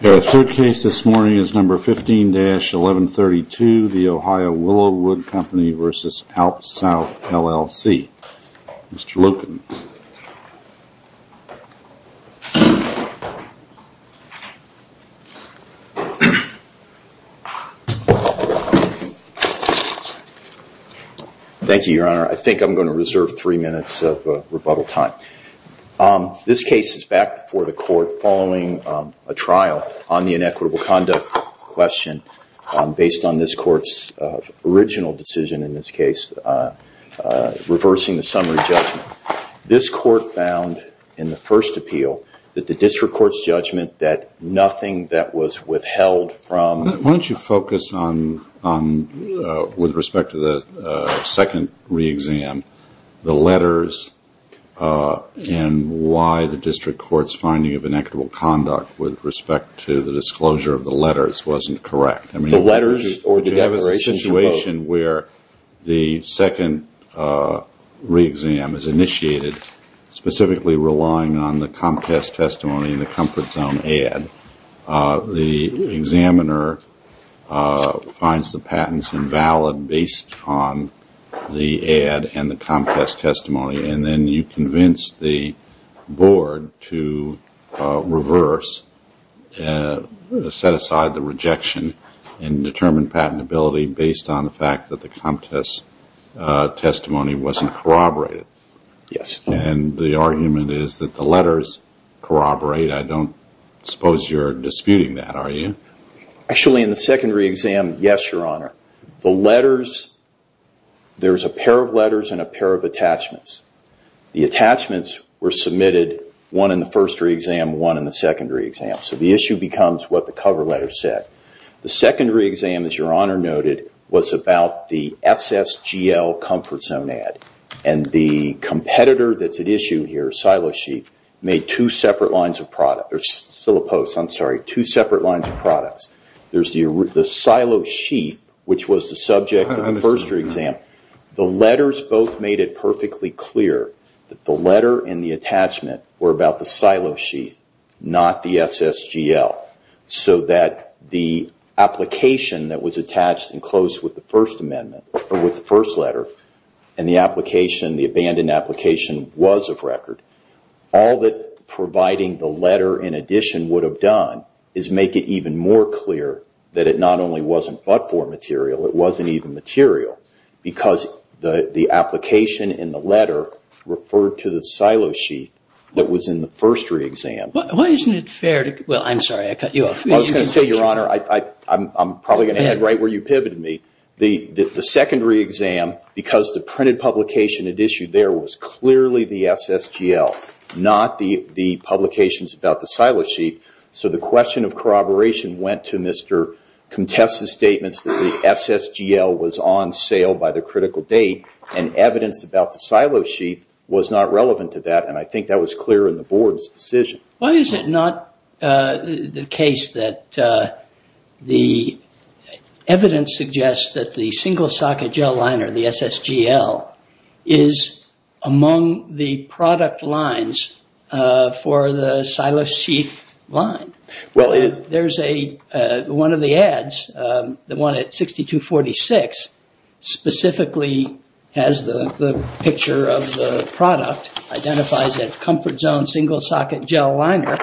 The third case this morning is number 15-1132, the Ohio Willow Wood Company v. Alps South, LLC. Mr. Loken. Thank you, Your Honor. I think I'm going to reserve three minutes of rebuttal time. This case is back before the court following a trial on the inequitable conduct question based on this court's original decision, in this case, reversing the summary judgment. This court found in the first appeal that the district court's judgment that nothing that was withheld from... Why don't you focus on, with respect to the second re-exam, the letters and why the district court's finding of inequitable conduct with respect to the disclosure of the letters wasn't correct. The letters or the declaration... The situation where the second re-exam is initiated specifically relying on the Comcast testimony and the Comfort Zone ad, the examiner finds the patents invalid based on the ad and the Comcast testimony and then you convince the set aside the rejection and determine patentability based on the fact that the Comcast testimony wasn't corroborated. And the argument is that the letters corroborate. I don't suppose you're disputing that, are you? Actually in the second re-exam, yes, Your Honor. The letters, there's a pair of letters and a pair of attachments. The attachments were submitted, one in the first re-exam, one in the second re-exam. So the issue becomes what the cover letter said. The second re-exam, as Your Honor noted, was about the SSGL Comfort Zone ad. And the competitor that's at issue here, Silo Sheath, made two separate lines of product. There's still a post, I'm sorry. Two separate lines of products. There's the Silo Sheath, which was the subject of the first re-exam. The letters both made it perfectly clear that the letter and the attachment were about the Silo Sheath, not the SSGL. So that the application that was attached and closed with the First Amendment, or with the first letter, and the application, the abandoned application, was of record. All that providing the letter in addition would have done is make it even more clear that it not only wasn't but-for material, it wasn't even material, because the application in the letter referred to the Silo Sheath that was in the first re-exam. Why isn't it fair to... Well, I'm sorry, I cut you off. I was going to say, Your Honor, I'm probably going to end right where you pivoted me. The second re-exam, because the printed publication it issued there was clearly the SSGL, not the publications about the Silo Sheath. So the question of corroboration went to Mr. Comtesse's statements that the SSGL was on sale by the critical date, and evidence about the Silo Sheath was not relevant to that, and I think that was clear in the Board's decision. Why is it not the case that the evidence suggests that the single socket gel liner, the SSGL, is among the product lines for the Silo Sheath line? There's one of the ads, the one at 6246, specifically has the picture of the product, identifies it comfort zone single socket gel liner,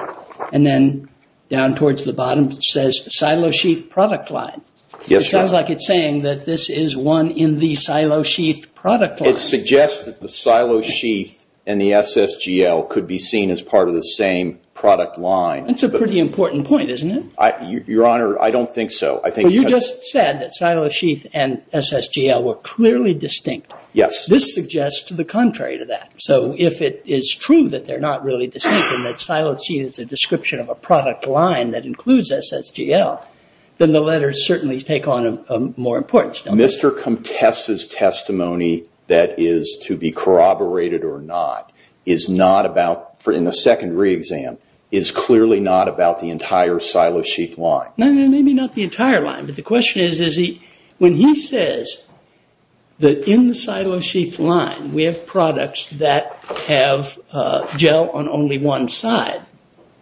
and then down towards the bottom it says Silo Sheath product line. It sounds like it's saying that this is one in the Silo Sheath product line. It suggests that the Silo Sheath and the SSGL could be seen as part of the same product line. That's a pretty important point, isn't it? Your Honor, I don't think so. You just said that Silo Sheath and SSGL were clearly distinct. Yes. This suggests the contrary to that. So if it is true that they're not really distinct, and that Silo Sheath is a description of a product line that includes SSGL, then the letters certainly take on more importance. Mr. Comtesse's testimony that is to be corroborated or not is not about, in the second re-exam, is clearly not about the entire Silo Sheath line. Maybe not the entire line, but the question is when he says that in the Silo Sheath line we have products that have gel on only one side.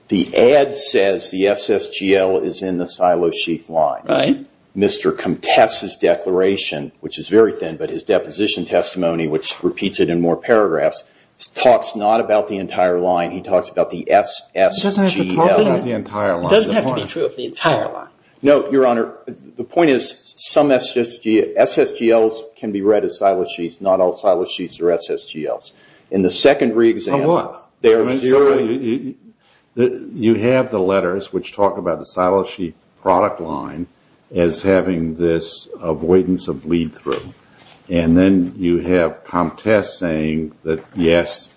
The ad says the SSGL is in the Silo Sheath line. Right. Mr. Comtesse's declaration, which is very thin, but his deposition testimony, which repeats it in more paragraphs, talks not about the entire line. He talks about the SSGL. He doesn't have to talk about the entire line. It doesn't have to be true of the entire line. No, Your Honor. The point is some SSGLs can be read as Silo Sheaths, not all Silo Sheaths are SSGLs. In the second re-exam... On what? You have the letters which talk about the Silo Sheath product line as having this avoidance of bleed through. Then you have Comtesse saying that yes,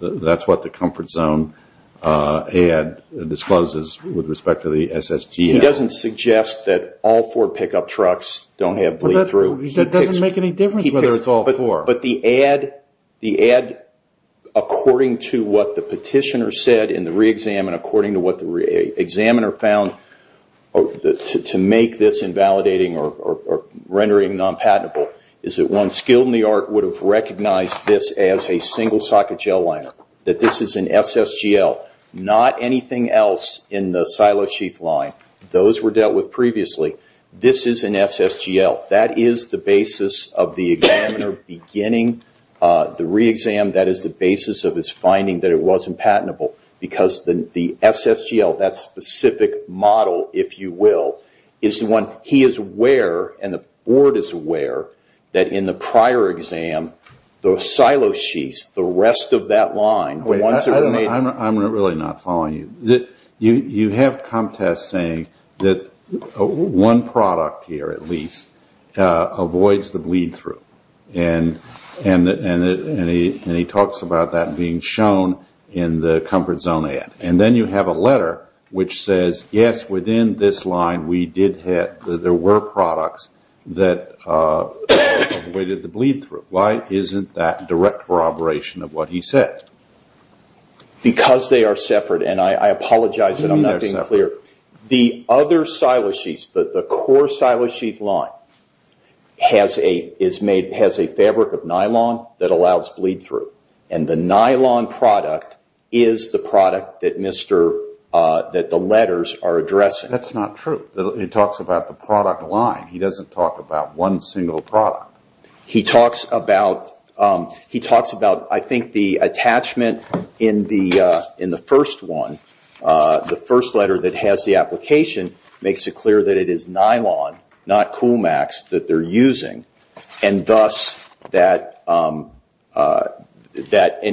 that's what the comfort zone ad discloses with respect to the SSGL. He doesn't suggest that all four pickup trucks don't have bleed through. That doesn't make any difference whether it's all four. But the ad according to what the petitioner said in the re-exam and according to what the re-examiner found to make this invalidating or rendering non-patentable is that one skilled in the art would have recognized this as a single socket gel liner, that this is an SSGL, not anything else in the Silo Sheath line. Those were dealt with previously. This is an SSGL. That is the basis of the examiner beginning the re-exam. That is the basis of his finding that it wasn't patentable because the SSGL, that specific model, if you will, is the one he is aware and the board is aware that in the prior exam, the Silo Sheaths, the rest of that line, the ones that were made... I'm really not following you. You have Comtesse saying that one product here at least avoids the bleed through. And he talks about that being shown in the Comfort Zone ad. And then you have a letter which says, yes, within this line, we did have, there were products that avoided the bleed through. Why isn't that direct corroboration of what he said? Because they are separate and I apologize that I'm not being clear. The other Silo Sheaths, the core Silo Sheath line, has a fabric of nylon that allows bleed through. And the nylon product is the product that the letters are addressing. That's not true. He talks about the product line. He doesn't talk about one single product. He talks about, I think, the attachment in the first one, the first letter that has the application, makes it clear that it is nylon, not Coolmax, that they're using. And thus that... And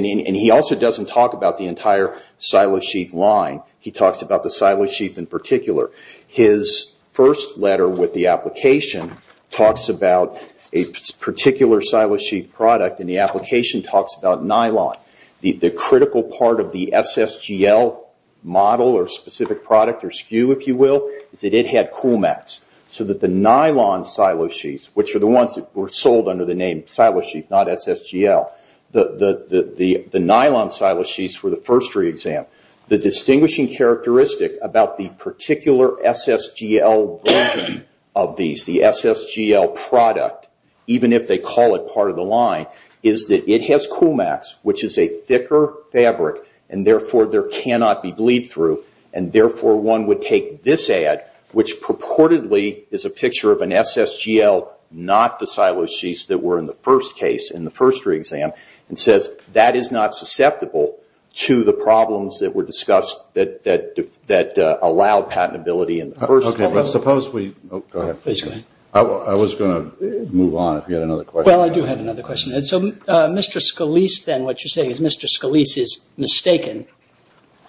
he also doesn't talk about the entire Silo Sheath line. He talks about the Silo Sheath in particular. His first letter with the application talks about a particular Silo Sheath product and the application talks about nylon. The critical part of the SSGL model or specific product or SKU, if you will, is that it had Coolmax. So that the nylon Silo Sheaths, which are the ones that were sold under the name Silo Sheath, not SSGL, the nylon Silo Sheaths were the first re-exam. The distinguishing characteristic about the particular SSGL version of these, the SSGL product, even if they call it part of the line, is that it has Coolmax, which is a thicker fabric, and therefore there cannot be bleed-through, and therefore one would take this ad, which purportedly is a picture of an SSGL, not the Silo Sheaths that were in the first case in the first re-exam, and says that is not susceptible to the problems that were discussed that allowed patentability in the first... Okay, but suppose we... I was going to move on if you had another question. Well, I do have another question. And so Mr. Scalise then, what you're saying is Mr. Scalise is mistaken,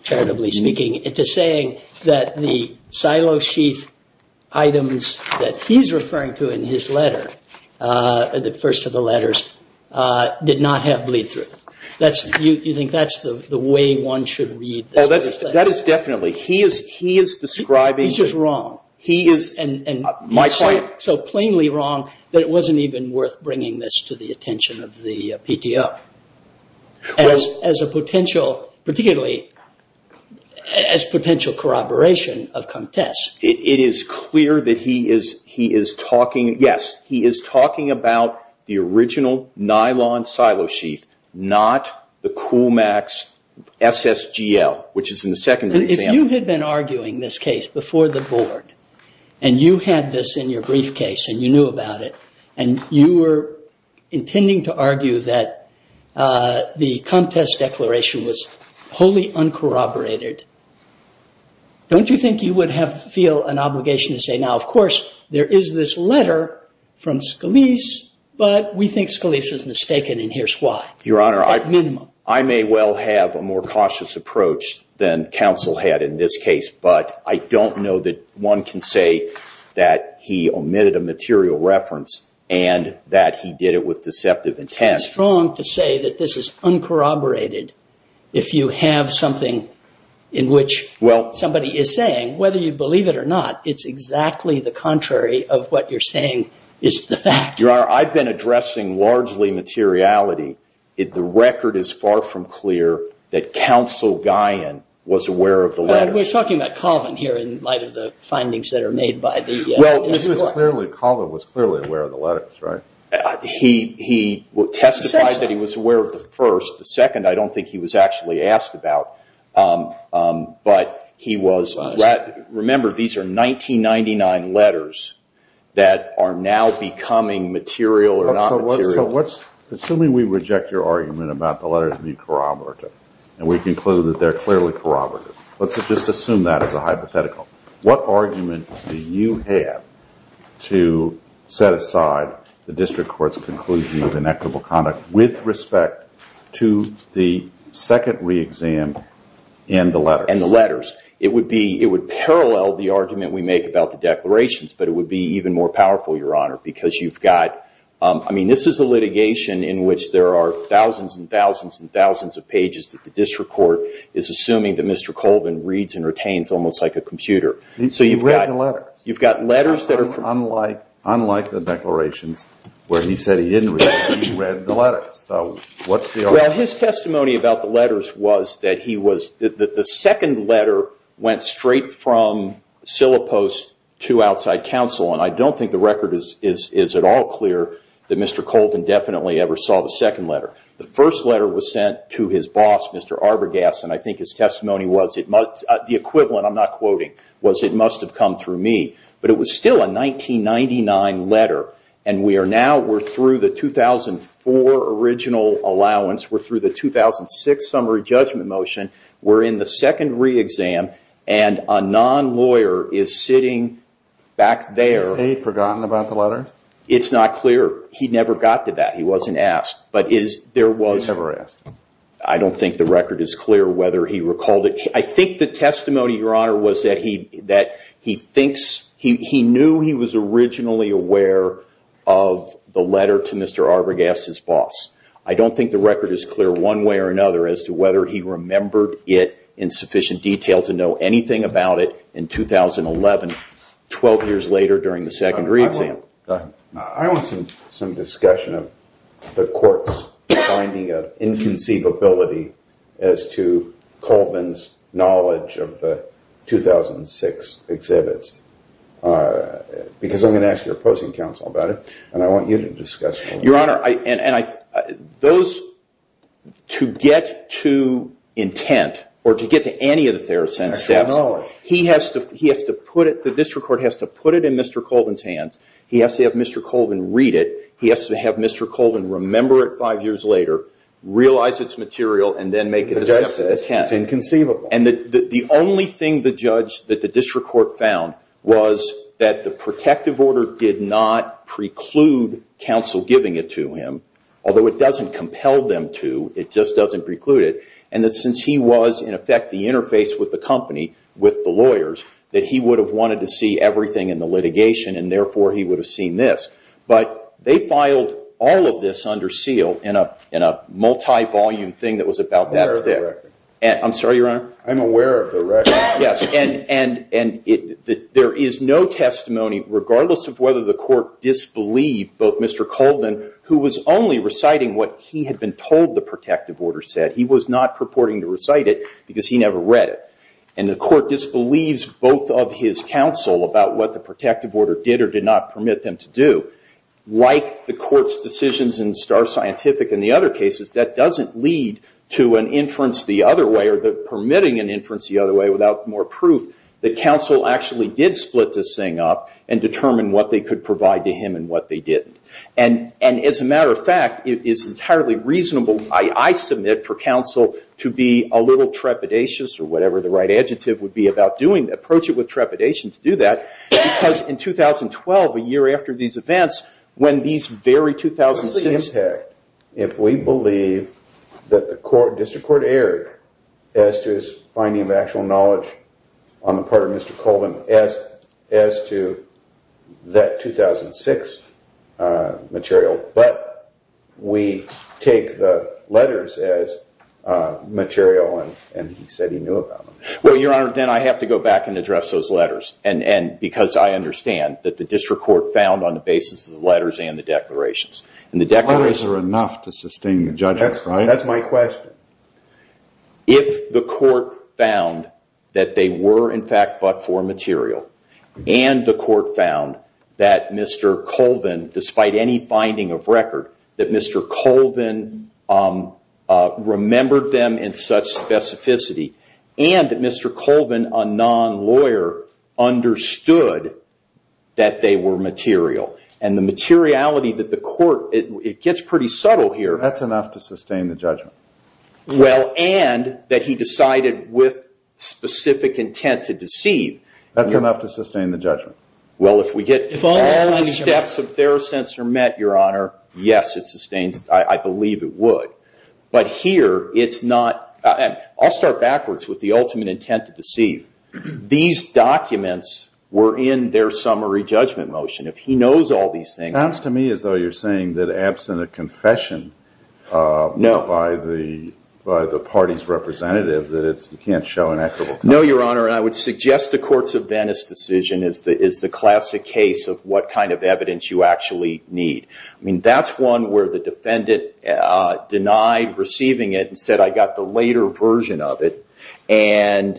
charitably speaking, into saying that the Silo Sheath items that he's referring to in his letter, the first of the letters, did not have bleed-through. That's, you think that's the way one should read this? That is definitely. He is describing... He's just wrong. He is, my point... to the attention of the PTO as a potential, particularly as potential corroboration of contests. It is clear that he is talking... Yes, he is talking about the original nylon Silo Sheath, not the Coolmax SSGL, which is in the second re-exam. If you had been arguing this case before the board, and you had this in your briefcase, and you knew about it, and you were intending to argue that the contest declaration was wholly uncorroborated, don't you think you would feel an obligation to say, now, of course, there is this letter from Scalise, but we think Scalise is mistaken, and here's why? Your Honor, I may well have a more cautious approach than counsel had in this case, but I don't know that one can say that he omitted a material reference and that he did it with deceptive intent. It's strong to say that this is uncorroborated if you have something in which somebody is saying, whether you believe it or not, it's exactly the contrary of what you're saying is the fact. Your Honor, I've been addressing largely materiality. The record is far from clear that counsel Guyon was aware of the letters. We're talking about Colvin here in light of the findings that are made by the... Well, Colvin was clearly aware of the letters, right? He testified that he was aware of the first. The second, I don't think he was actually asked about, but he was... Remember, these are 1999 letters that are now becoming material or not material. So assuming we reject your argument about the letters being corroborated, and we conclude that they're clearly corroborated, let's just assume that as a hypothetical. What argument do you have to set aside the district court's conclusion of inequitable conduct with respect to the second re-exam and the letters? And the letters. It would parallel the argument we make about the declarations, but it would be even more powerful, Your Honor, because you've got... I mean, this is a litigation in which there are thousands and thousands and thousands of pages that the district court is assuming that Mr. Colvin reads and retains almost like a computer. So you've got... He read the letters. You've got letters that are... Unlike the declarations where he said he didn't read them, he read the letters. So what's the argument? Well, his testimony about the letters was that he was... The second letter went straight from Sillipost to outside counsel, and I don't think the record is at all clear that Mr. Colvin definitely ever saw the second letter. The first letter was sent to his boss, Mr. Arbogast, and I think his testimony was it must... The equivalent, I'm not quoting, was it must have come through me. But it was still a 1999 letter, and we are now... We're through the 2004 original allowance. We're through the 2006 summary judgment motion. We're in the second re-exam, and a non-lawyer is sitting back there. Is he forgotten about the letters? It's not clear. He never got to that. He wasn't asked. But is there was... He was never asked. I don't think the record is clear whether he recalled it. I think the testimony, Your Honor, was that he thinks... He knew he was originally aware of the letter to Mr. Arbogast's boss. I don't think the record is clear one way or another as to whether he remembered it in sufficient detail to know anything about it in 2011, 12 years later during the second re-exam. I want some discussion of the court's finding of inconceivability as to Colvin's knowledge of the 2006 exhibits, because I'm going to ask your opposing counsel about it, and I want you to discuss it. Your Honor, and those... To get to intent or to get to any of the Theracent steps, he has to put it... The district court has to put it in Mr. Colvin's hands. He has to have Mr. Colvin read it. He has to have Mr. Colvin remember it five years later, realize it's material, and then make a decision. The judge says it's inconceivable. And the only thing the judge, that the district court found, was that the protective order did not preclude counsel giving it to him, although it doesn't compel them to. It just doesn't preclude it. And that since he was, in effect, the interface with the company, with the lawyers, that he would have wanted to see everything in the litigation, and therefore he would have seen this. But they filed all of this under seal in a multi-volume thing that was about that thick. I'm aware of the record. I'm sorry, Your Honor? I'm aware of the record. Yes, and there is no testimony, regardless of whether the court disbelieved both Mr. Colvin, who was only reciting what he had been told the protective order said. He was not purporting to recite it because he never read it. And the court disbelieves both of his counsel about what the protective order did or did not permit them to do. Like the court's decisions in Starr Scientific and the other cases, that doesn't lead to an inference the other way or permitting an inference the other way without more proof that counsel actually did split this thing up and determine what they could provide to him and what they didn't. And as a matter of fact, it is entirely reasonable, I submit, for counsel to be a little trepidatious or whatever the right adjective would be about doing, approach it with trepidation to do that. Because in 2012, a year after these events, when these very 2006- What's the impact if we believe that the district court erred as to his finding of actual knowledge on the part of Mr. Colvin as to that 2006 material, but we take the letters as material and he said he knew about them? Well, Your Honor, then I have to go back and address those letters because I understand that the district court found on the basis of the letters and the declarations. And the declarations- How is there enough to sustain the judgment? That's my question. If the court found that they were in fact but for material and the court found that Mr. Colvin, despite any finding of record, that Mr. Colvin remembered them in such specificity and that Mr. Colvin, a non-lawyer, understood that they were material and the materiality that the court- It gets pretty subtle here. That's enough to sustain the judgment. Well, and that he decided with specific intent to deceive. That's enough to sustain the judgment. Well, if we get all the steps of Therosensor met, Your Honor, yes, it sustains. I believe it would. But here, it's not- I'll start backwards with the ultimate intent to deceive. These documents were in their summary judgment motion. If he knows all these things- It sounds to me as though you're saying that absent a confession- No. By the party's representative, that you can't show an equitable- No, Your Honor. And I would suggest the Courts of Venice decision is the classic case of what kind of evidence you actually need. I mean, that's one where the defendant denied receiving it and said, I got the later version of it. And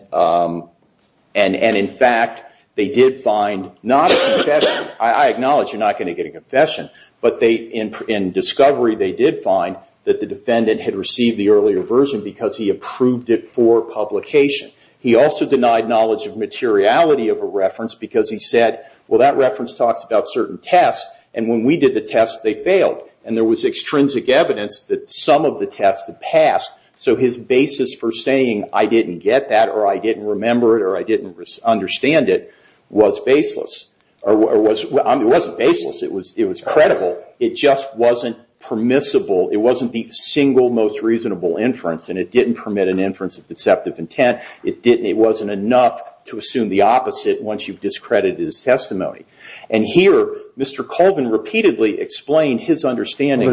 in fact, they did find not a confession- I acknowledge you're not going to get a confession. But in discovery, they did find that the defendant had received the earlier version because he approved it for publication. He also denied knowledge of materiality of a reference because he said, well, that reference talks about certain tests. And when we did the test, they failed. And there was extrinsic evidence that some of the tests had passed. So his basis for saying, I didn't get that, or I didn't remember it, or I didn't understand it, was baseless. It wasn't baseless. It was credible. It just wasn't permissible. It wasn't the single most reasonable inference. And it didn't permit an inference of deceptive intent. It wasn't enough to assume the opposite once you've discredited his testimony. And here, Mr. Colvin repeatedly explained his understanding-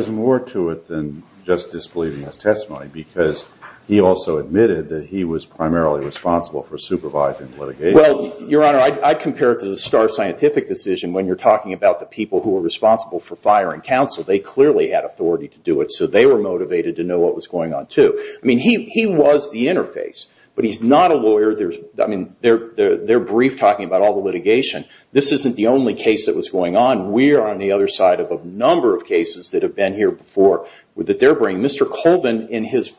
just disbelieving his testimony because he also admitted that he was primarily responsible for supervising litigation. Well, Your Honor, I compare it to the Starr Scientific decision when you're talking about the people who are responsible for firing counsel. They clearly had authority to do it. So they were motivated to know what was going on, too. I mean, he was the interface. But he's not a lawyer. They're brief talking about all the litigation. This isn't the only case that was going on. We're on the other side of a number of cases that have that they're bringing. Mr. Colvin, in his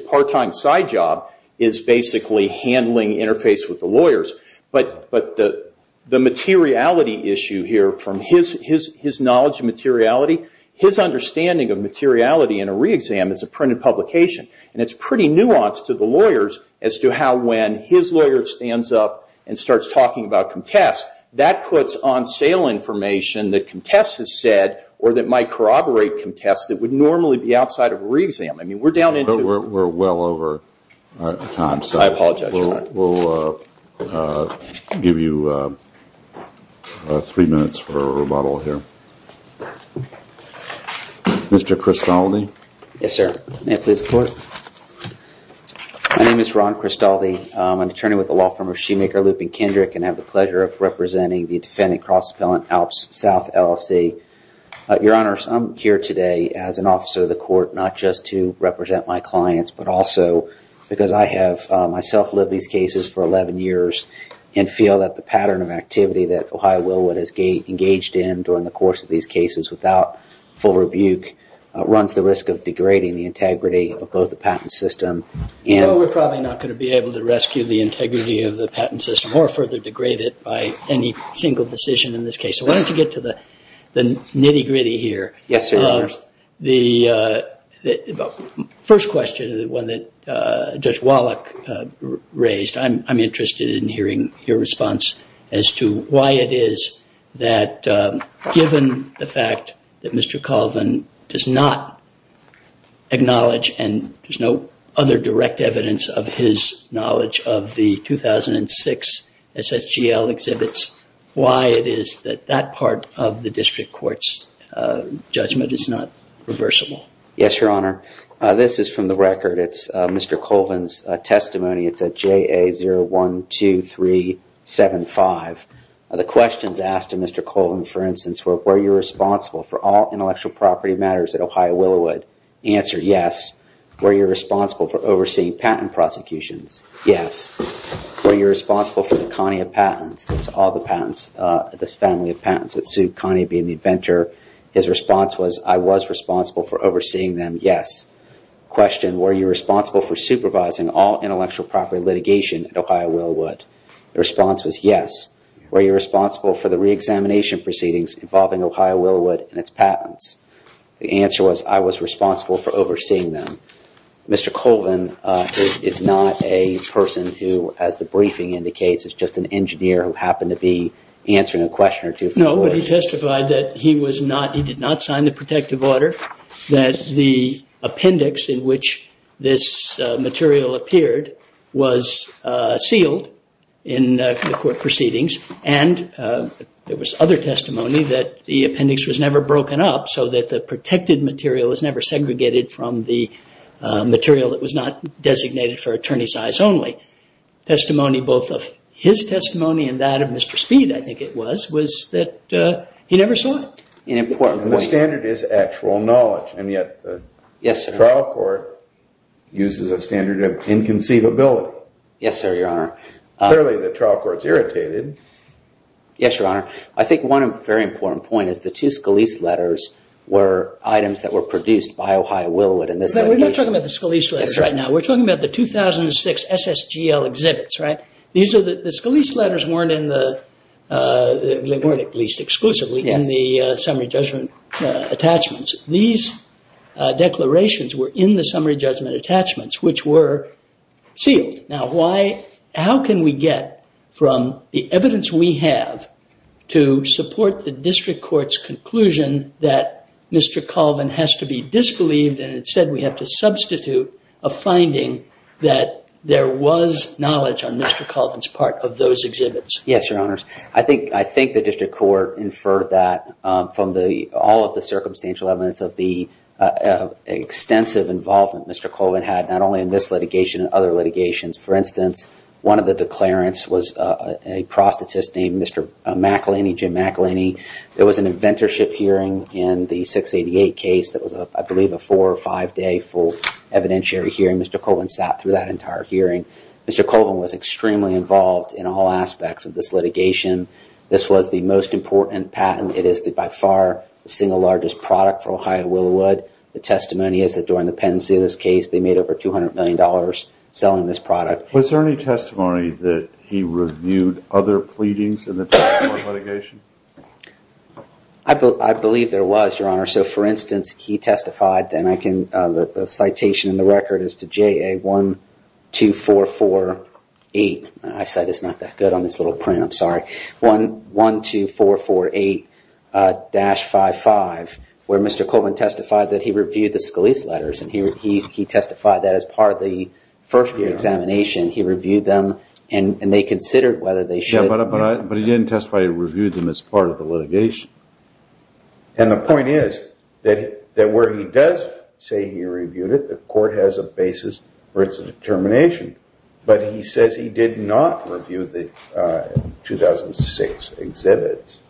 part-time side job, is basically handling interface with the lawyers. But the materiality issue here, from his knowledge of materiality, his understanding of materiality in a re-exam is a printed publication. And it's pretty nuanced to the lawyers as to how when his lawyer stands up and starts talking about contests, that puts on sale information that contests has said or that might corroborate contests that would normally be outside of a re-exam. I mean, we're down into it. We're well over time. So I apologize. We'll give you three minutes for a rebuttal here. Mr. Cristaldi? Yes, sir. May I please report? My name is Ron Cristaldi. I'm an attorney with the law firm of Shoemaker, Lupin, Kendrick, and have the pleasure of representing the defendant cross-appellant Alps South LLC. Your Honor, I'm here today as an officer of the court, not just to represent my clients, but also because I have myself lived these cases for 11 years and feel that the pattern of activity that Ohio Willwood has engaged in during the course of these cases without full rebuke runs the risk of degrading the integrity of both the patent system and- No, we're probably not going to be able to rescue the integrity of the patent system or further degrade it by any single decision in this case. Why don't you get to the nitty-gritty here? Yes, sir, Your Honor. First question is the one that Judge Wallach raised. I'm interested in hearing your response as to why it is that given the fact that Mr. Colvin does not acknowledge and there's no other direct evidence of his knowledge of the 2006 SSGL exhibits, why it is that that part of the district court's judgment is not reversible? Yes, Your Honor. This is from the record. It's Mr. Colvin's testimony. It's at JA012375. The questions asked to Mr. Colvin, for instance, were you responsible for all intellectual property matters at Ohio Willwood? Answer, yes. Were you responsible for overseeing patent prosecutions? Yes. Were you responsible for the Kanye patents? All the patents, this family of patents that sued Kanye being the inventor. His response was, I was responsible for overseeing them. Yes. Question, were you responsible for supervising all intellectual property litigation at Ohio Willwood? The response was yes. Were you responsible for the reexamination proceedings involving Ohio Willwood and its patents? The answer was, I was responsible for overseeing them. Mr. Colvin is not a person who, as the briefing indicates, is just an engineer who happened to be answering a question or two. No, but he testified that he was not, he did not sign the protective order, that the appendix in which this material appeared was sealed in the court proceedings. And there was other testimony that the appendix was never broken up so that the protected material was never segregated from the material that was not designated for attorney size only. Testimony, both of his testimony and that of Mr. Speed, I think it was, was that he never saw it. And the standard is actual knowledge, and yet the trial court uses a standard of inconceivability. Yes, sir, your honor. Clearly, the trial court's irritated. Yes, your honor. I think one very important point is the two Scalise letters were items that were produced by Ohio Willwood. And we're not talking about the Scalise letters right now. We're talking about the 2006 SSGL exhibits, right? These are the Scalise letters weren't in the, they weren't at least exclusively in the summary judgment attachments. These declarations were in the summary judgment attachments, which were sealed. Now, why, how can we get from the evidence we have to support the district court's conclusion that Mr. Colvin has to be disbelieved, and instead we have to substitute a finding that there was knowledge on Mr. Colvin's part of those exhibits? Yes, your honors. I think the district court inferred that from the, all of the circumstantial evidence of the extensive involvement Mr. Colvin had, not only in this litigation and other litigations. For instance, one of the declarants was a prosthetist named Mr. McElhinney, Jim McElhinney. There was an inventorship hearing in the 688 case that was, I believe, a four or five day full evidentiary hearing. Mr. Colvin sat through that entire hearing. Mr. Colvin was extremely involved in all aspects of this litigation. This was the most important patent. It is by far the single largest product for Ohio Willowood. The testimony is that during the pendency of this case, they made over 200 million dollars selling this product. Was there any testimony that he reviewed other pleadings in the district court litigation? I believe there was, your honor. So for instance, he testified, and I can, the citation in the record is to JA12448. I said it's not that good on this little print. I'm sorry. JA12448-55 where Mr. Colvin testified that he reviewed the Scalise letters and he testified that as part of the first examination. He reviewed them and they considered whether they should. Yeah, but he didn't testify he reviewed them as part of the litigation. And the point is that where he does say he reviewed it, the court has a basis for its determination. But he says he did not review the 2006 exhibits.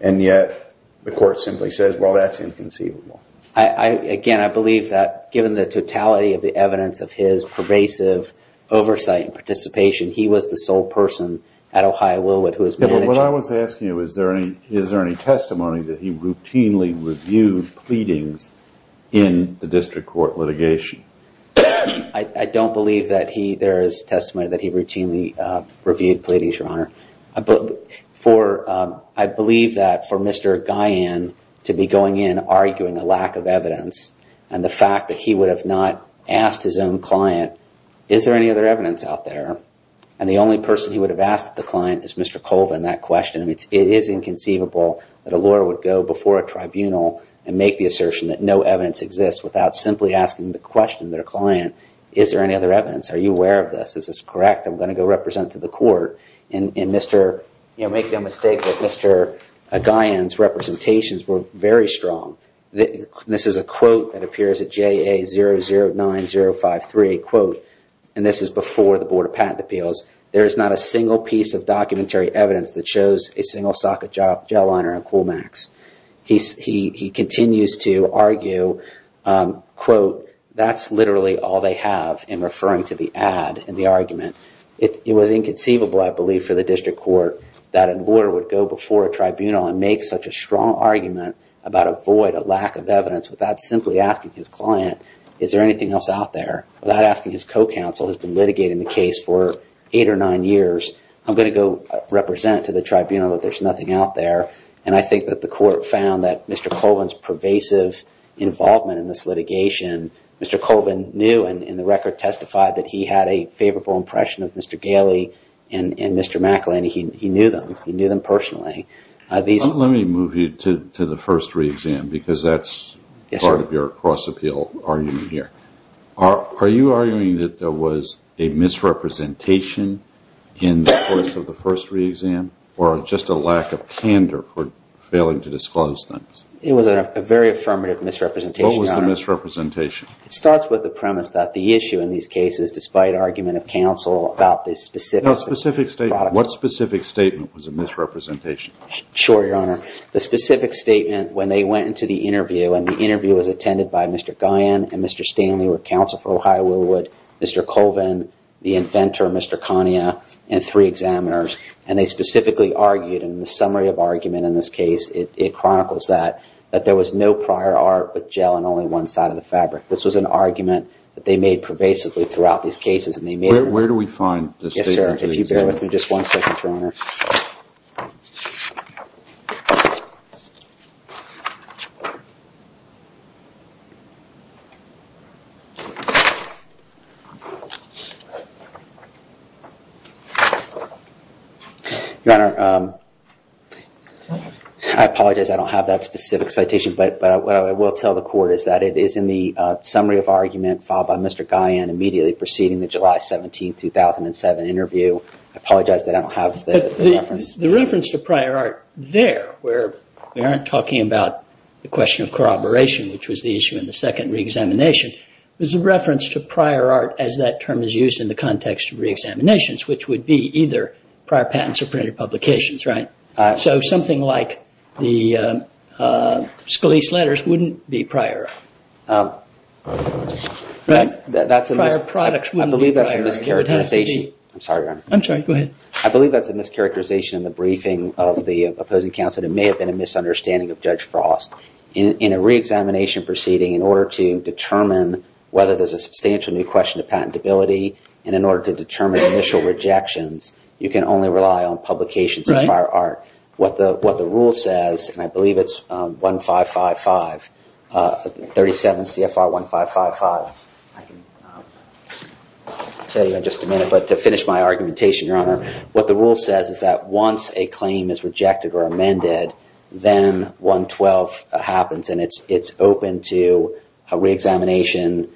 And yet the court simply says, well, that's inconceivable. Again, I believe that given the totality of the evidence of his pervasive oversight and participation, he was the sole person at Ohio Willwood who was managing. What I was asking you, is there any testimony that he routinely reviewed pleadings in the district court litigation? I don't believe that he, there is testimony that he routinely reviewed pleadings, Your Honor. For, I believe that for Mr. Gyan to be going in arguing a lack of evidence and the fact that he would have not asked his own client, is there any other evidence out there? And the only person he would have asked the client is Mr. Colvin. That question, it is inconceivable that a lawyer would go before a tribunal and make the assertion that no evidence exists without simply asking the question that a client, is there any other evidence? Are you aware of this? Is this correct? I'm going to go represent to the court and Mr., you know, make no mistake that Mr. Gyan's representations were very strong. This is a quote that appears at JA009053, quote, and this is before the Board of Patent Appeals. There is not a single piece of documentary evidence that shows a single socket gel liner in Coolmax. He continues to argue, quote, that's literally all they have in referring to the ad and the argument. It was inconceivable, I believe, for the district court that a lawyer would go before a tribunal and make such a strong argument about a void, a lack of evidence without simply asking his client, is there anything else out there? Without asking his co-counsel who has been litigating the case for eight or nine years, I'm going to go represent to the tribunal that there's nothing out there. And I think that the court found that Mr. Colvin's pervasive involvement in this litigation, Mr. Colvin knew, and the record testified that he had a favorable impression of Mr. Gailey and Mr. McElhinney. He knew them. He knew them personally. Let me move you to the first re-exam because that's part of your cross-appeal argument here. Are you arguing that there was a misrepresentation in the course of the first re-exam or just a lack of candor for failing to disclose things? It was a very affirmative misrepresentation. What was the misrepresentation? It starts with the premise that the issue in these cases, despite argument of counsel about the specific... No, specific statement. What specific statement was a misrepresentation? Sure, Your Honor. The specific statement when they went into the interview and the interview was attended by Mr. Guyon and Mr. Stanley were counsel for Ohio Willwood, Mr. Colvin, the inventor, Mr. Kania and three examiners. And they specifically argued in the summary of argument in this case, it chronicles that that there was no prior art with gel on only one side of the fabric. This was an argument that they made pervasively throughout these cases. And they made... Where do we find this? Yes, sir. If you bear with me just one second, Your Honor. Your Honor, I apologize. I don't have that specific citation, but what I will tell the court is that it is in the summary of argument filed by Mr. Guyon immediately preceding the July 17, 2007 interview. I apologize. They don't have the reference. The reference to prior art there where we aren't talking about the question of corroboration, which was the issue in the second re-examination was a reference to prior art as that term is used in the context of re-examinations, which would be either prior patents or printed publications, right? So something like the Scalise letters wouldn't be prior art. That's a mis... Prior products wouldn't be prior art. I believe that's a mischaracterization. I'm sorry, Your Honor. I'm sorry. Go ahead. I believe that's a mischaracterization in the briefing of the opposing counsel that it may have been a misunderstanding of Judge Frost. In a re-examination proceeding, in order to determine whether there's a substantial new question of patentability and in order to determine initial rejections, you can only rely on publications of prior art. What the rule says, and I believe it's 1555, 37 CFR 1555. I can tell you in just a minute, but to finish my argumentation, Your Honor, what the rule says is that once a claim is rejected or amended, then 112 happens and it's open to a re-examination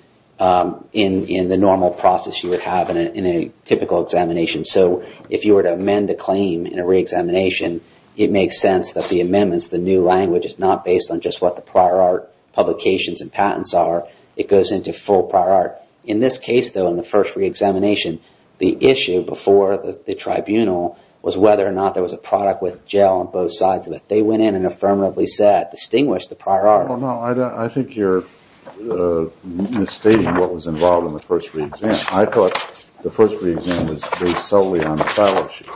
in the normal process you would have in a typical examination. So if you were to amend a claim in a re-examination, it makes sense that the amendments, the new language is not based on just what the prior art publications and patents are. It goes into full prior art. In this case, though, in the first re-examination, the issue before the tribunal was whether or not there was a product with gel on both sides of it. They went in and affirmatively said, distinguish the prior art. Well, no, I think you're misstating what was involved in the first re-exam. I thought the first re-exam was based solely on the silo sheet.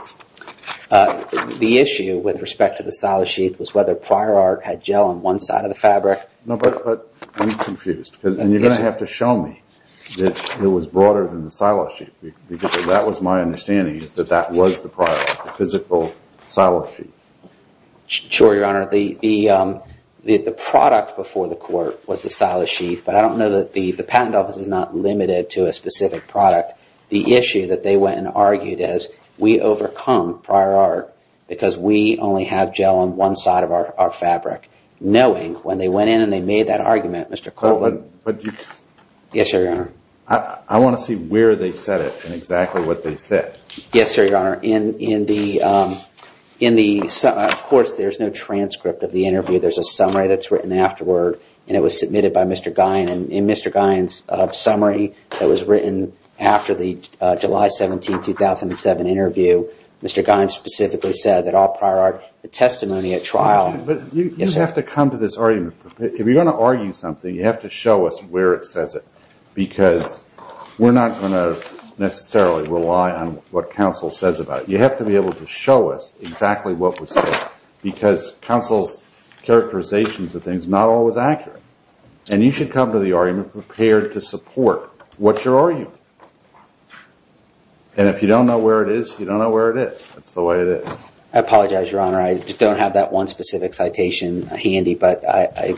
The issue with respect to the silo sheet was whether prior art had gel on one side of the fabric. No, but I'm confused. And you're going to have to show me that it was broader than the silo sheet because that was my understanding is that that was the prior art, the physical silo sheet. Sure, Your Honor. The product before the court was the silo sheet, but I don't know that the patent office is not limited to a specific product. The issue that they went and argued as we overcome prior art because we only have gel on one side of our fabric. Knowing when they went in and they made that argument, Mr. Coleman. Yes, sir, Your Honor. I want to see where they said it and exactly what they said. Yes, sir, Your Honor. In the, of course, there's no transcript of the interview. There's a summary that's written afterward and it was submitted by Mr. Gein and Mr. Gein's summary that was written after the July 17, 2007 interview. Mr. Gein specifically said that all prior art, the testimony at trial. You have to come to this argument. If you're going to argue something, you have to show us where it says it because we're not going to necessarily rely on what counsel says about it. You have to be able to show us exactly what was said because counsel's characterizations of things not always accurate. And you should come to the argument prepared to support what you're arguing. you don't know where it is. That's the way it is. I apologize, Your Honor. I don't have that one specific citation handy, but I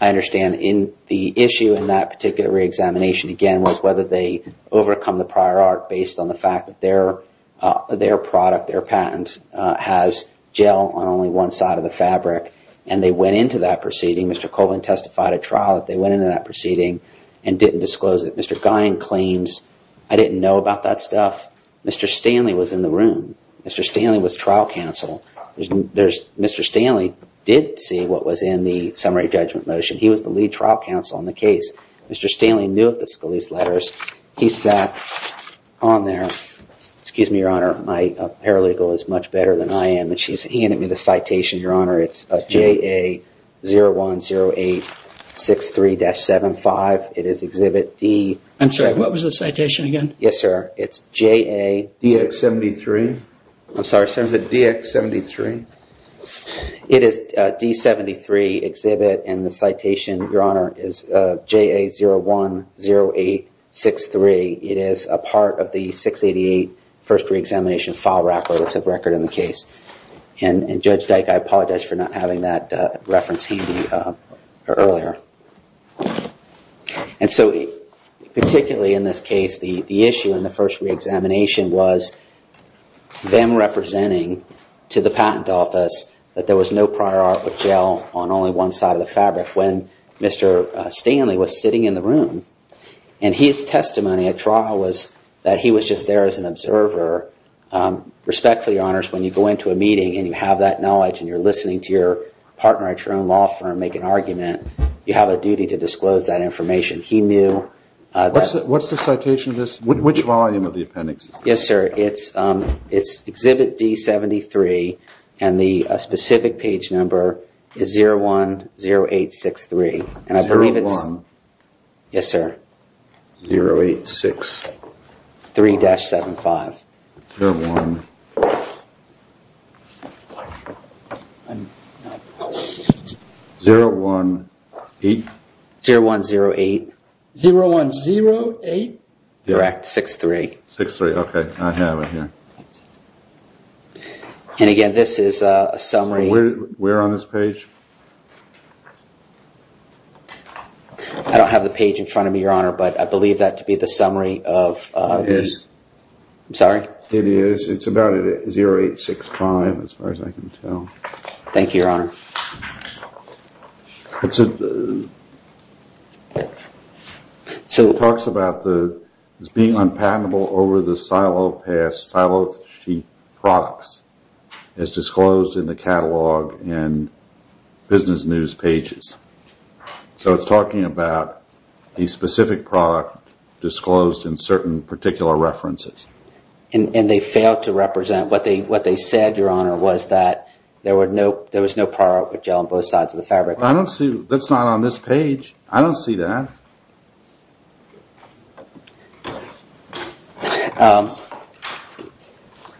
understand in the issue in that particular re-examination, again, was whether they overcome the prior art based on the fact that their product, their patent has gel on only one side of the fabric and they went into that proceeding. Mr. Colvin testified at trial that they went into that proceeding and didn't disclose it. Mr. Gein claims, I didn't know about that stuff. Mr. Stanley was in the room. Mr. Stanley was trial counsel. Mr. Stanley did see what was in the summary judgment motion. He was the lead trial counsel on the case. Mr. Stanley knew of the Scalise letters. He sat on there. Excuse me, Your Honor. My paralegal is much better than I am. And he handed me the citation, Your Honor. It's JA010863-75. It is Exhibit D. I'm sorry. What was the citation again? Yes, sir. It's JA- DX-73? I'm sorry, sir. Is it DX-73? It is D-73 Exhibit and the citation, Your Honor, is JA010863. It is a part of the 688 first re-examination file record. It's a record in the case. And Judge Dyke, I apologize for not having that reference handy earlier. And so particularly in this case, the issue in the first re-examination was them representing to the patent office that there was no prior artwork gel on only one side of the fabric when Mr. Stanley was sitting in the room. And his testimony at trial was that he was just there as an observer. Respectfully, Your Honors, when you go into a meeting and you have that knowledge and you're listening to your partner at your own law firm make an argument, you have a duty to disclose that information. He knew that- What's the citation of this? Which volume of the appendix? Yes, sir. It's Exhibit D-73 and the specific page number is 010863. And I believe it's- Yes, sir. 086. 3-75. 0108? 0108. 0108? Correct, 6-3. 6-3, okay, I have it here. And again, this is a summary- Where on this page? I don't have the page in front of me, Your Honor, but I believe that to be the summary of- It is. I'm sorry? It is. It's about 0865 as far as I can tell. Thank you, Your Honor. So it talks about being unpatentable over the silo-paste, silo-sheet products as disclosed in the catalog and business news pages. So it's talking about a specific product disclosed in certain particular references. And they failed to represent- What they said, Your Honor, was that there was no product with gel on both sides of the fabric. I don't see- That's not on this page. I don't see that.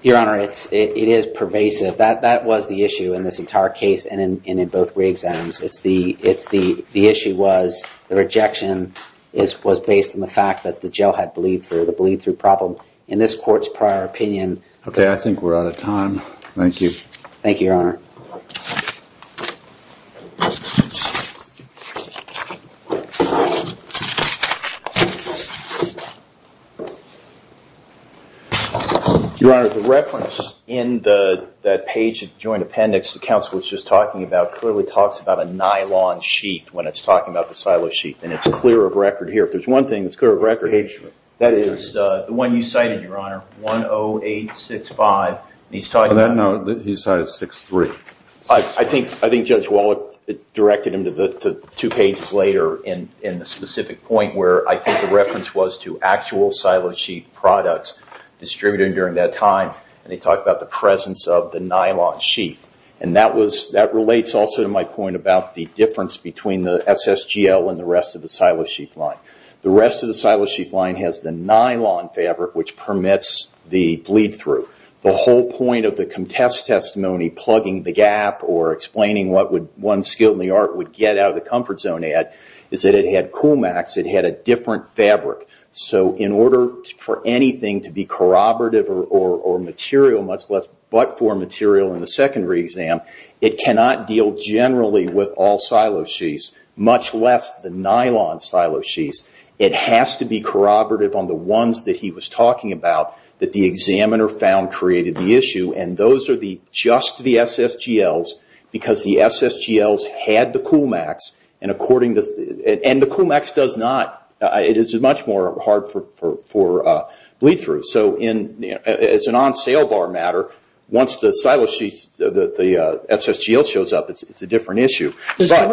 Your Honor, it is pervasive. That was the issue in this entire case and in both re-exams. The issue was the rejection was based on the fact that the gel had bleed-through, the bleed-through problem. In this court's prior opinion- Okay, I think we're out of time. Thank you. Thank you, Your Honor. Thank you. Your Honor, the reference in that page of the joint appendix, the counsel was just talking about, clearly talks about a nylon sheath when it's talking about the silo-sheath. And it's clear of record here. If there's one thing that's clear of record- That is the one you cited, Your Honor, 10865. And he's talking about- On that note, he cited 63. I think Judge Wallet directed him to two pages later in the specific point where I think the reference was to actual silo-sheath products distributed during that time. And he talked about the presence of the nylon sheath. And that relates also to my point about the difference between the SSGL and the rest of the silo-sheath line. The rest of the silo-sheath line has the nylon fabric which permits the bleed-through. The whole point of the contest testimony plugging the gap or explaining what one skilled in the art would get out of the comfort zone at is that it had coolmax. It had a different fabric. So in order for anything to be corroborative or material, much less but-for material in the secondary exam, it cannot deal generally with all silo-sheaths, much less the nylon silo-sheaths. It has to be corroborative on the ones that he was talking about that the examiner found created the issue. And those are just the SSGLs because the SSGLs had the coolmax. And the coolmax does not. It is much more hard for bleed-through. So it's an on-sale bar matter. Once the SSGL shows up, it's a different issue. Well,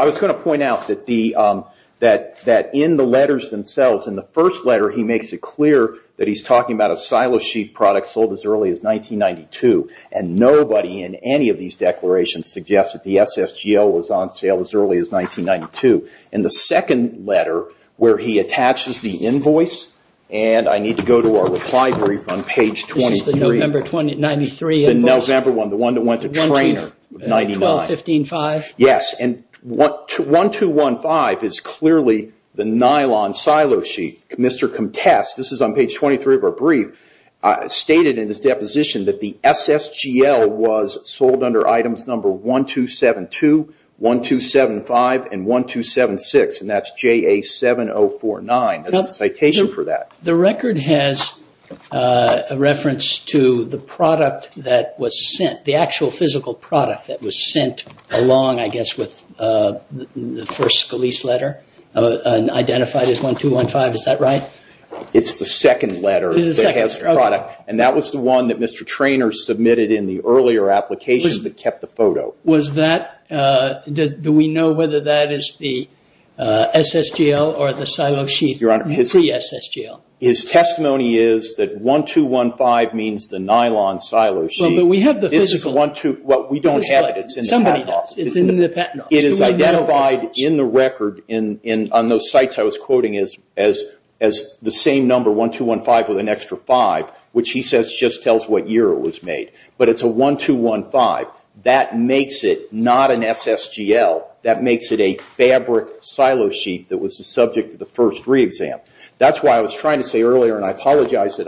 I was going to point out that in the letters themselves, in the first letter, he makes it clear that he's talking about a silo-sheath product sold as early as 1992. And nobody in any of these declarations suggests that the SSGL was on sale as early as 1992. In the second letter, where he attaches the invoice, and I need to go to our reply brief on page 23. This is the November 1993 invoice. The November one, the one that went to Traynor in 1999. 1215-5. And 1215 is clearly the nylon silo-sheath. Mr. Comtesse, this is on page 23 of our brief, stated in his deposition that the SSGL was sold under items number 1272, 1275, and 1276. And that's JA7049. That's the citation for that. The record has a reference to the product that was sent, the actual physical product that was sent along, I guess, with the first Scalise letter, identified as 1215. Is that right? It's the second letter that has the product. And that was the one that Mr. Traynor submitted in the earlier application that kept the photo. Was that, do we know whether that is the SSGL or the silo-sheath pre-SSGL? His testimony is that 1215 means the nylon silo-sheath. But we have the physical. Well, we don't have it. It is identified in the record, on those sites I was quoting, as the same number, 1215, with an extra 5, which he says just tells what year it was made. But it's a 1215. That makes it not an SSGL. That makes it a fabric silo-sheath that was the subject of the first re-exam. That's why I was trying to say earlier, and I apologize, that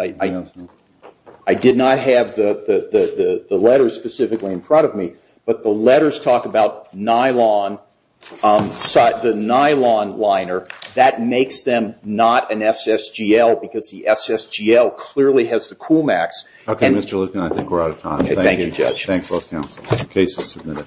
I did not have the letters specifically in front of me. But the letters talk about nylon, the nylon liner. That makes them not an SSGL, because the SSGL clearly has the Coolmax. Okay, Mr. Lipkin, I think we're out of time. Okay, thank you, Judge. Thanks, both counsel. The case is submitted.